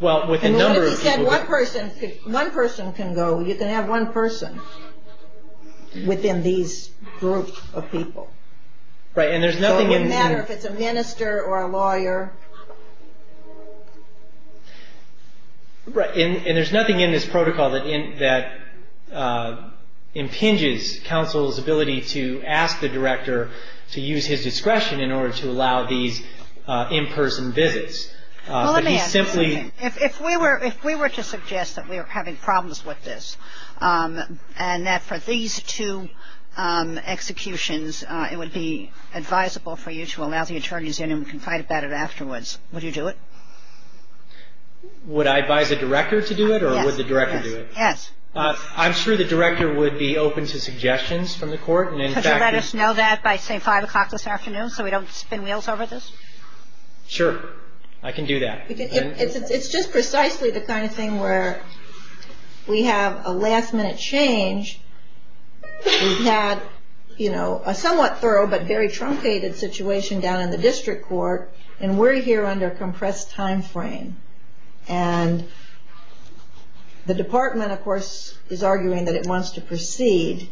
Well, with a number of people. He said one person can go. You can have one person within these groups of people. Right, and there's nothing in. So, it wouldn't matter if it's a minister or a lawyer. Right, and there's nothing in this protocol that impinges counsel's ability to ask the director to use his discretion in order to allow these in-person visits. Well, let me ask you something. If we were to suggest that we were having problems with this, and that for these two executions, it would be advisable for you to allow the attorneys in and confide about it afterwards, would you do it? Would I advise a director to do it or would the director do it? Yes. I'm sure the director would be open to suggestions from the court. Could you let us know that by, say, 5 o'clock this afternoon so we don't spin wheels over this? Sure. I can do that. It's just precisely the kind of thing where we have a last-minute change. We've had, you know, a somewhat thorough but very truncated situation down in the district court, and we're here under a compressed time frame. And the department, of course, is arguing that it wants to proceed.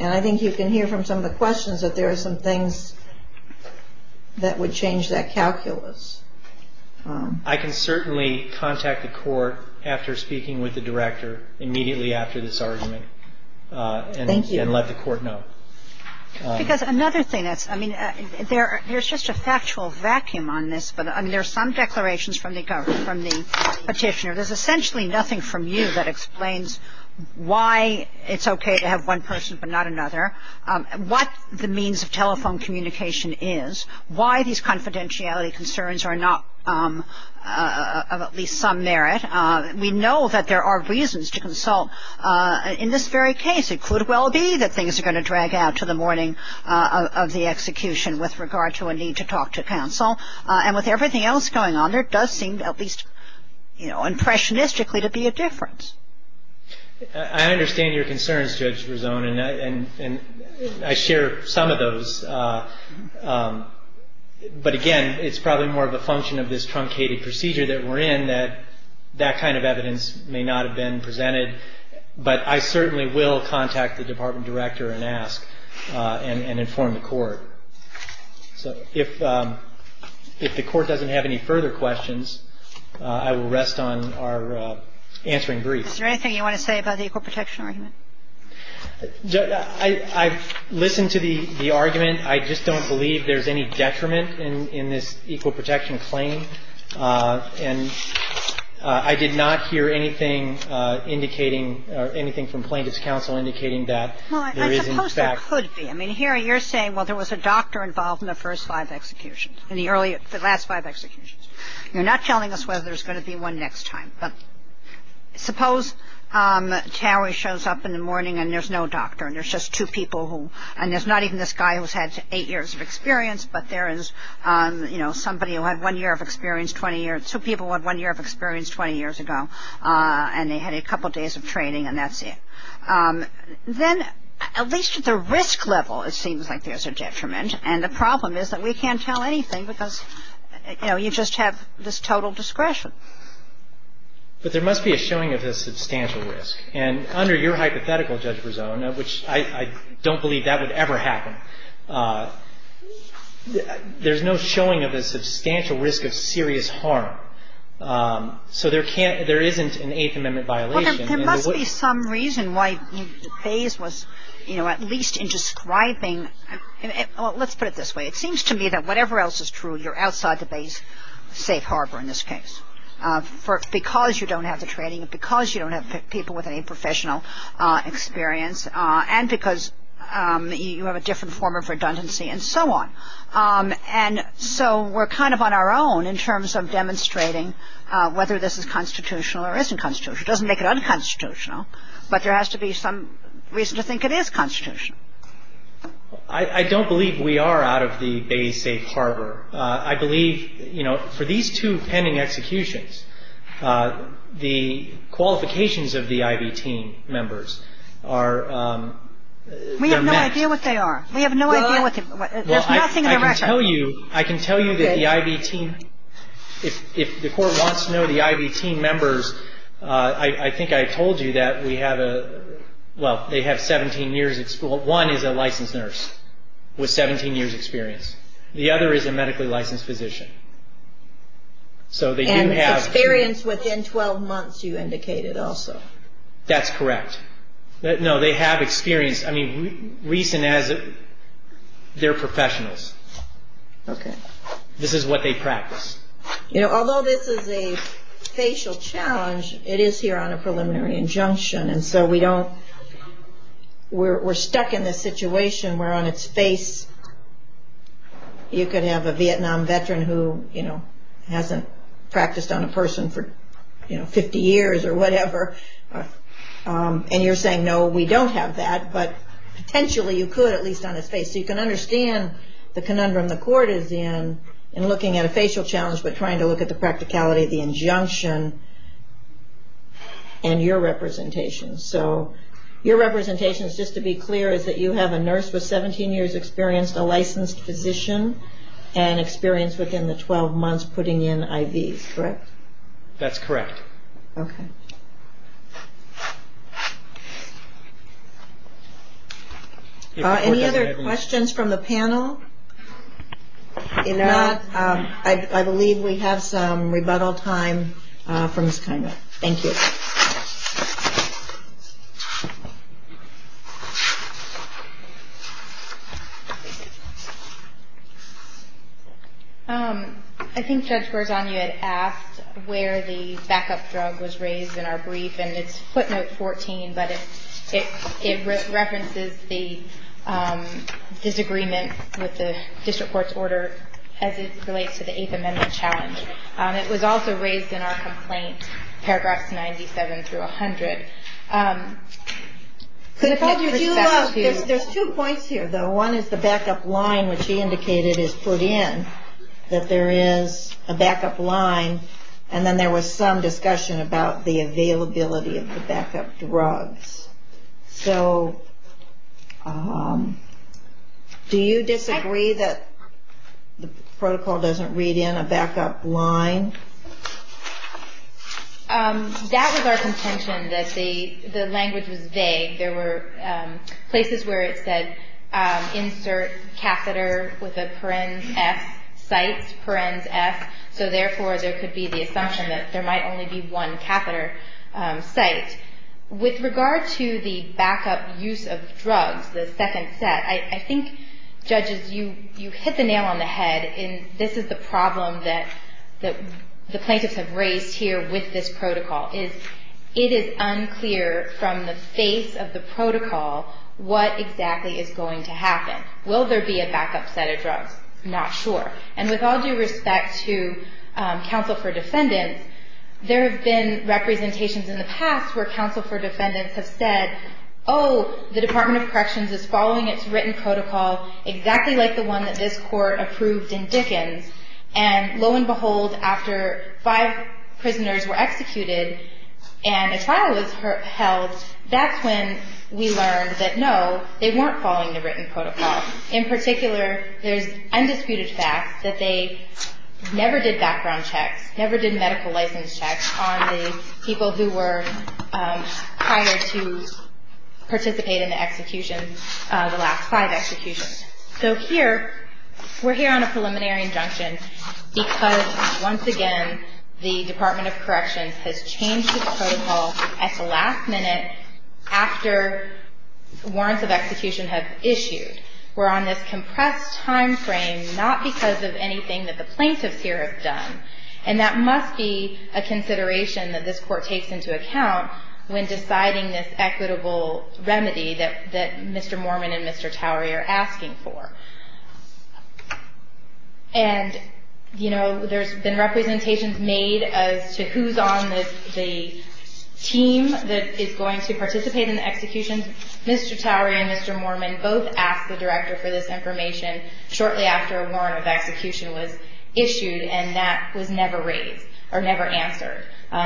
And I think you can hear from some of the questions that there are some things that would change that calculus. I can certainly contact the court after speaking with the director immediately after this argument. Thank you. And let the court know. Because another thing is, I mean, there's just a factual vacuum on this. But, I mean, there are some declarations from the petitioner. There's essentially nothing from you that explains why it's okay to have one person but not another, what the means of telephone communication is, why these confidentiality concerns are not of at least some merit. We know that there are reasons to consult. In this very case, it could well be that things are going to drag out to the morning of the execution with regard to a need to talk to counsel. And with everything else going on, there does seem to at least, you know, impressionistically to be a difference. I understand your concerns, Judge Rizzone, and I share some of those. But, again, it's probably more of a function of this truncated procedure that we're in that that kind of evidence may not have been presented. But I certainly will contact the department director and ask and inform the court. So if the court doesn't have any further questions, I will rest on our answering brief. Is there anything you want to say about the equal protection argument? I've listened to the argument. I just don't believe there's any detriment in this equal protection claim. And I did not hear anything indicating or anything from plaintiff's counsel indicating that there is, in fact. Well, I suppose there could be. I mean, here you're saying, well, there was a doctor involved in the first five executions, in the last five executions. You're not telling us whether there's going to be one next time. But suppose Terry shows up in the morning and there's no doctor and there's just two people who, and there's not even this guy who's had eight years of experience, but there is, you know, somebody who had one year of experience 20 years, two people who had one year of experience 20 years ago, and they had a couple days of training and that's it. Then, at least at the risk level, it seems like there's a detriment. And the problem is that we can't tell anything because, you know, you just have this total discretion. But there must be a showing of a substantial risk. And under your hypothetical, Judge Berzon, which I don't believe that would ever happen, there's no showing of a substantial risk of serious harm. So there can't, there isn't an Eighth Amendment violation. Well, there must be some reason why Bayes was, you know, at least in describing, well, let's put it this way. It seems to me that whatever else is true, you're outside the Bayes' safe harbor in this case, because you don't have the training, because you don't have people with any professional experience, and because you have a different form of redundancy and so on. And so we're kind of on our own in terms of demonstrating whether this is constitutional or isn't constitutional. It doesn't make it unconstitutional, but there has to be some reason to think it is constitutional. I don't believe we are out of the Bayes' safe harbor. I believe, you know, for these two pending executions, the qualifications of the I.B.T. members are met. We have no idea what they are. We have no idea what they are. There's nothing in the record. I can tell you that the I.B.T. If the Court wants to know the I.B.T. members, I think I told you that we have a, well, they have 17 years. One is a licensed nurse with 17 years' experience. The other is a medically licensed physician. So they do have. And experience within 12 months, you indicated also. That's correct. No, they have experience. I mean, reason is they're professionals. Okay. This is what they practice. You know, although this is a facial challenge, it is here on a preliminary injunction. And so we don't, we're stuck in this situation where on its face you could have a Vietnam veteran who, you know, hasn't practiced on a person for, you know, 50 years or whatever. And you're saying, no, we don't have that. But potentially you could, at least on its face. So you can understand the conundrum the Court is in, in looking at a facial challenge, but trying to look at the practicality of the injunction and your representation. So your representation, just to be clear, is that you have a nurse with 17 years' experience, a licensed physician, and experience within the 12 months putting in I.B.T.s, correct? That's correct. Okay. Any other questions from the panel? If not, I believe we have some rebuttal time for Ms. Kina. Thank you. I think Judge Garzano had asked where the backup drug was raised in our brief, and it's footnote 14, but it references the disagreement with the district court's order as it relates to the Eighth Amendment challenge. It was also raised in our complaint, paragraphs 97 through 100. There's two points here, though. One is the backup line, which she indicated is put in, that there is a backup line, and then there was some discussion about the availability of the backup drugs. So do you disagree that the protocol doesn't read in a backup line? That was our contention, that the language was vague. There were places where it said, insert catheter with a parens F site, parens F, so therefore there could be the assumption that there might only be one catheter site. With regard to the backup use of drugs, the second set, I think, judges, you hit the nail on the head, and this is the problem that the plaintiffs have raised here with this protocol, is it is unclear from the face of the protocol what exactly is going to happen. Will there be a backup set of drugs? Not sure. And with all due respect to counsel for defendants, there have been representations in the past where counsel for defendants have said, oh, the Department of Corrections is following its written protocol exactly like the one that this court approved in Dickens, and lo and behold, after five prisoners were executed and a trial was held, that's when we learned that, no, they weren't following the written protocol. In particular, there's undisputed fact that they never did background checks, never did medical license checks on the people who were hired to participate in the execution, the last five executions. So here, we're here on a preliminary injunction because, once again, the Department of Corrections has changed the protocol at the last minute after warrants of execution have issued. We're on this compressed timeframe, not because of anything that the plaintiffs here have done, and that must be a consideration that this court takes into account when deciding this equitable remedy that Mr. Mormon and Mr. Towery are asking for. And, you know, there's been representations made as to who's on the team that is going to participate in the execution. Mr. Towery and Mr. Mormon both asked the director for this information shortly after a warrant of execution was issued, and that was never raised or never answered.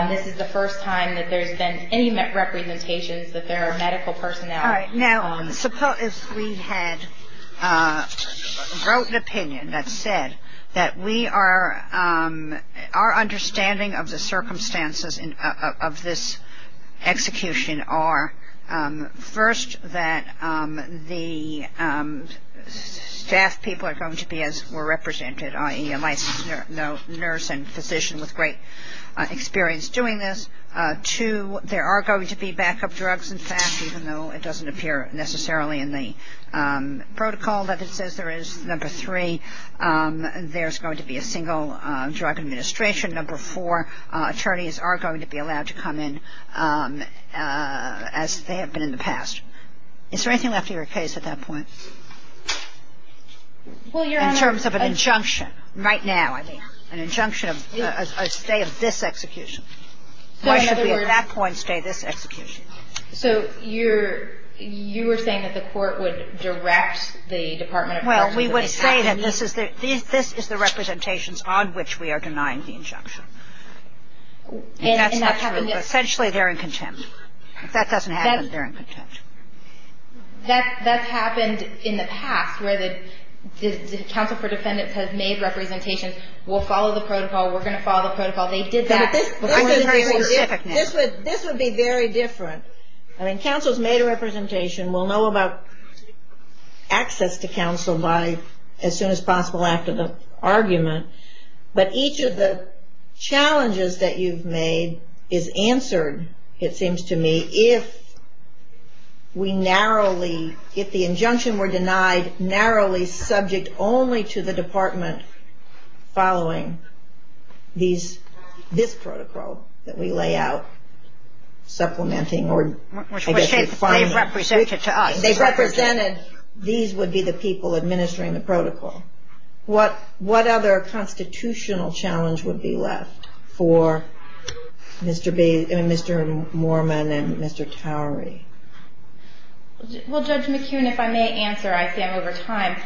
This is the first time that there's been any representations that there are medical personnel. Now, suppose we had wrote an opinion that said that we are ‑‑ our understanding of the circumstances of this execution are, first, that the staff people are going to be as were represented, i.e., a licensed nurse and physician with great experience doing this. Two, there are going to be backup drugs, in fact, even though it doesn't appear necessarily in the protocol that it says there is. Number three, there's going to be a single drug administration. Number four, attorneys are going to be allowed to come in as they have been in the past. Is there anything left of your case at that point? In terms of an injunction, right now, I mean, an injunction of a stay of this execution. Why should we at that point stay this execution? So you're ‑‑ you were saying that the court would direct the Department of Health? Well, we would say that this is the representations on which we are denying the injunction. And that's not true. Essentially, they're in contempt. If that doesn't happen, they're in contempt. That's happened in the past where the Council for Defendants has made representations. We'll follow the protocol. We're going to follow the protocol. They did that. This would be very different. I mean, Council's made a representation. We'll know about access to Council by as soon as possible after the argument. But each of the challenges that you've made is answered, it seems to me, if we narrowly, if the injunction were denied narrowly subject only to the department following these, this protocol that we lay out, supplementing or, I guess, defining. Which they've represented to us. They've represented, these would be the people administering the protocol. What other constitutional challenge would be left for Mr. Mooreman and Mr. Towery? Well, Judge McKeown, if I may answer, I say I'm over time.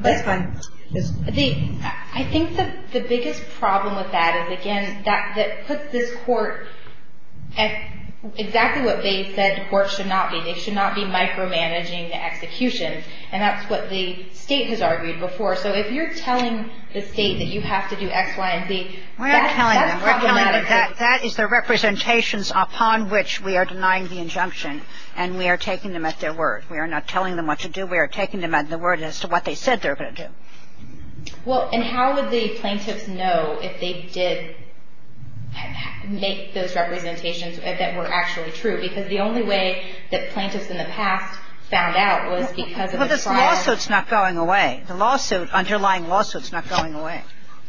That's fine. I think the biggest problem with that is, again, that puts this Court at exactly what they said the Court should not be. They should not be micromanaging the execution. And that's what the State has argued before. So if you're telling the State that you have to do X, Y, and Z, that's problematic. We're not telling them. That is the representations upon which we are denying the injunction, and we are taking them at their word. We are not telling them what to do. We are taking them at their word as to what they said they were going to do. Well, and how would the plaintiffs know if they did make those representations that were actually true? Because the only way that plaintiffs in the past found out was because of the client. Well, the lawsuit's not going away. The lawsuit, underlying lawsuit's not going away.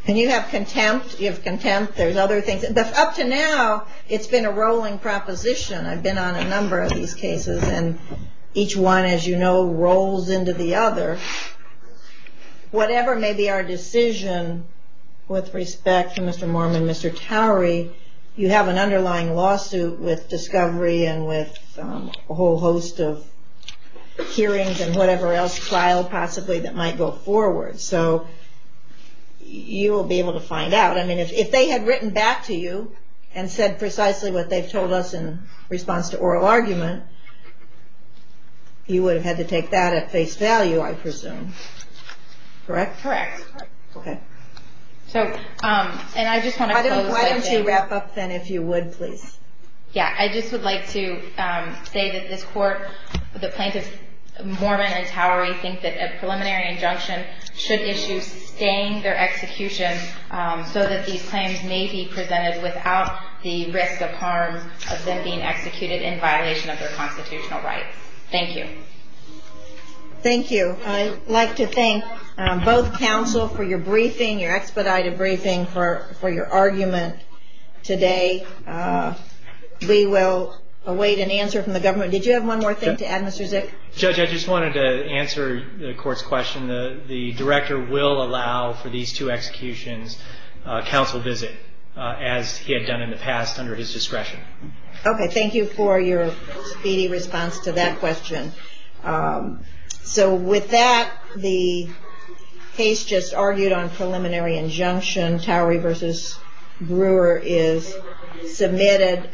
And you have contempt. You have contempt. There's other things. Up to now, it's been a rolling proposition. I've been on a number of these cases. And each one, as you know, rolls into the other. Whatever may be our decision with respect to Mr. Mormon, Mr. Towery, you have an underlying lawsuit with discovery and with a whole host of hearings and whatever else filed possibly that might go forward. So you will be able to find out. I mean, if they had written back to you and said precisely what they've told us in response to oral argument, you would have had to take that at face value, I presume. Correct? Correct. Okay. So, and I just want to close. Why don't you wrap up, then, if you would, please. Yeah, I just would like to say that this Court, the plaintiffs, Mormon and Towery, think that a preliminary injunction should issue staying their execution so that these are not being executed in violation of their constitutional rights. Thank you. Thank you. I'd like to thank both counsel for your briefing, your expedited briefing, for your argument today. We will await an answer from the government. Did you have one more thing to add, Mr. Zick? Judge, I just wanted to answer the Court's question. The Director will allow for these two executions, counsel visit, as he had done in the past under his discretion. Okay. Thank you for your speedy response to that question. So with that, the case just argued on preliminary injunction, Towery v. Brewer, is submitted.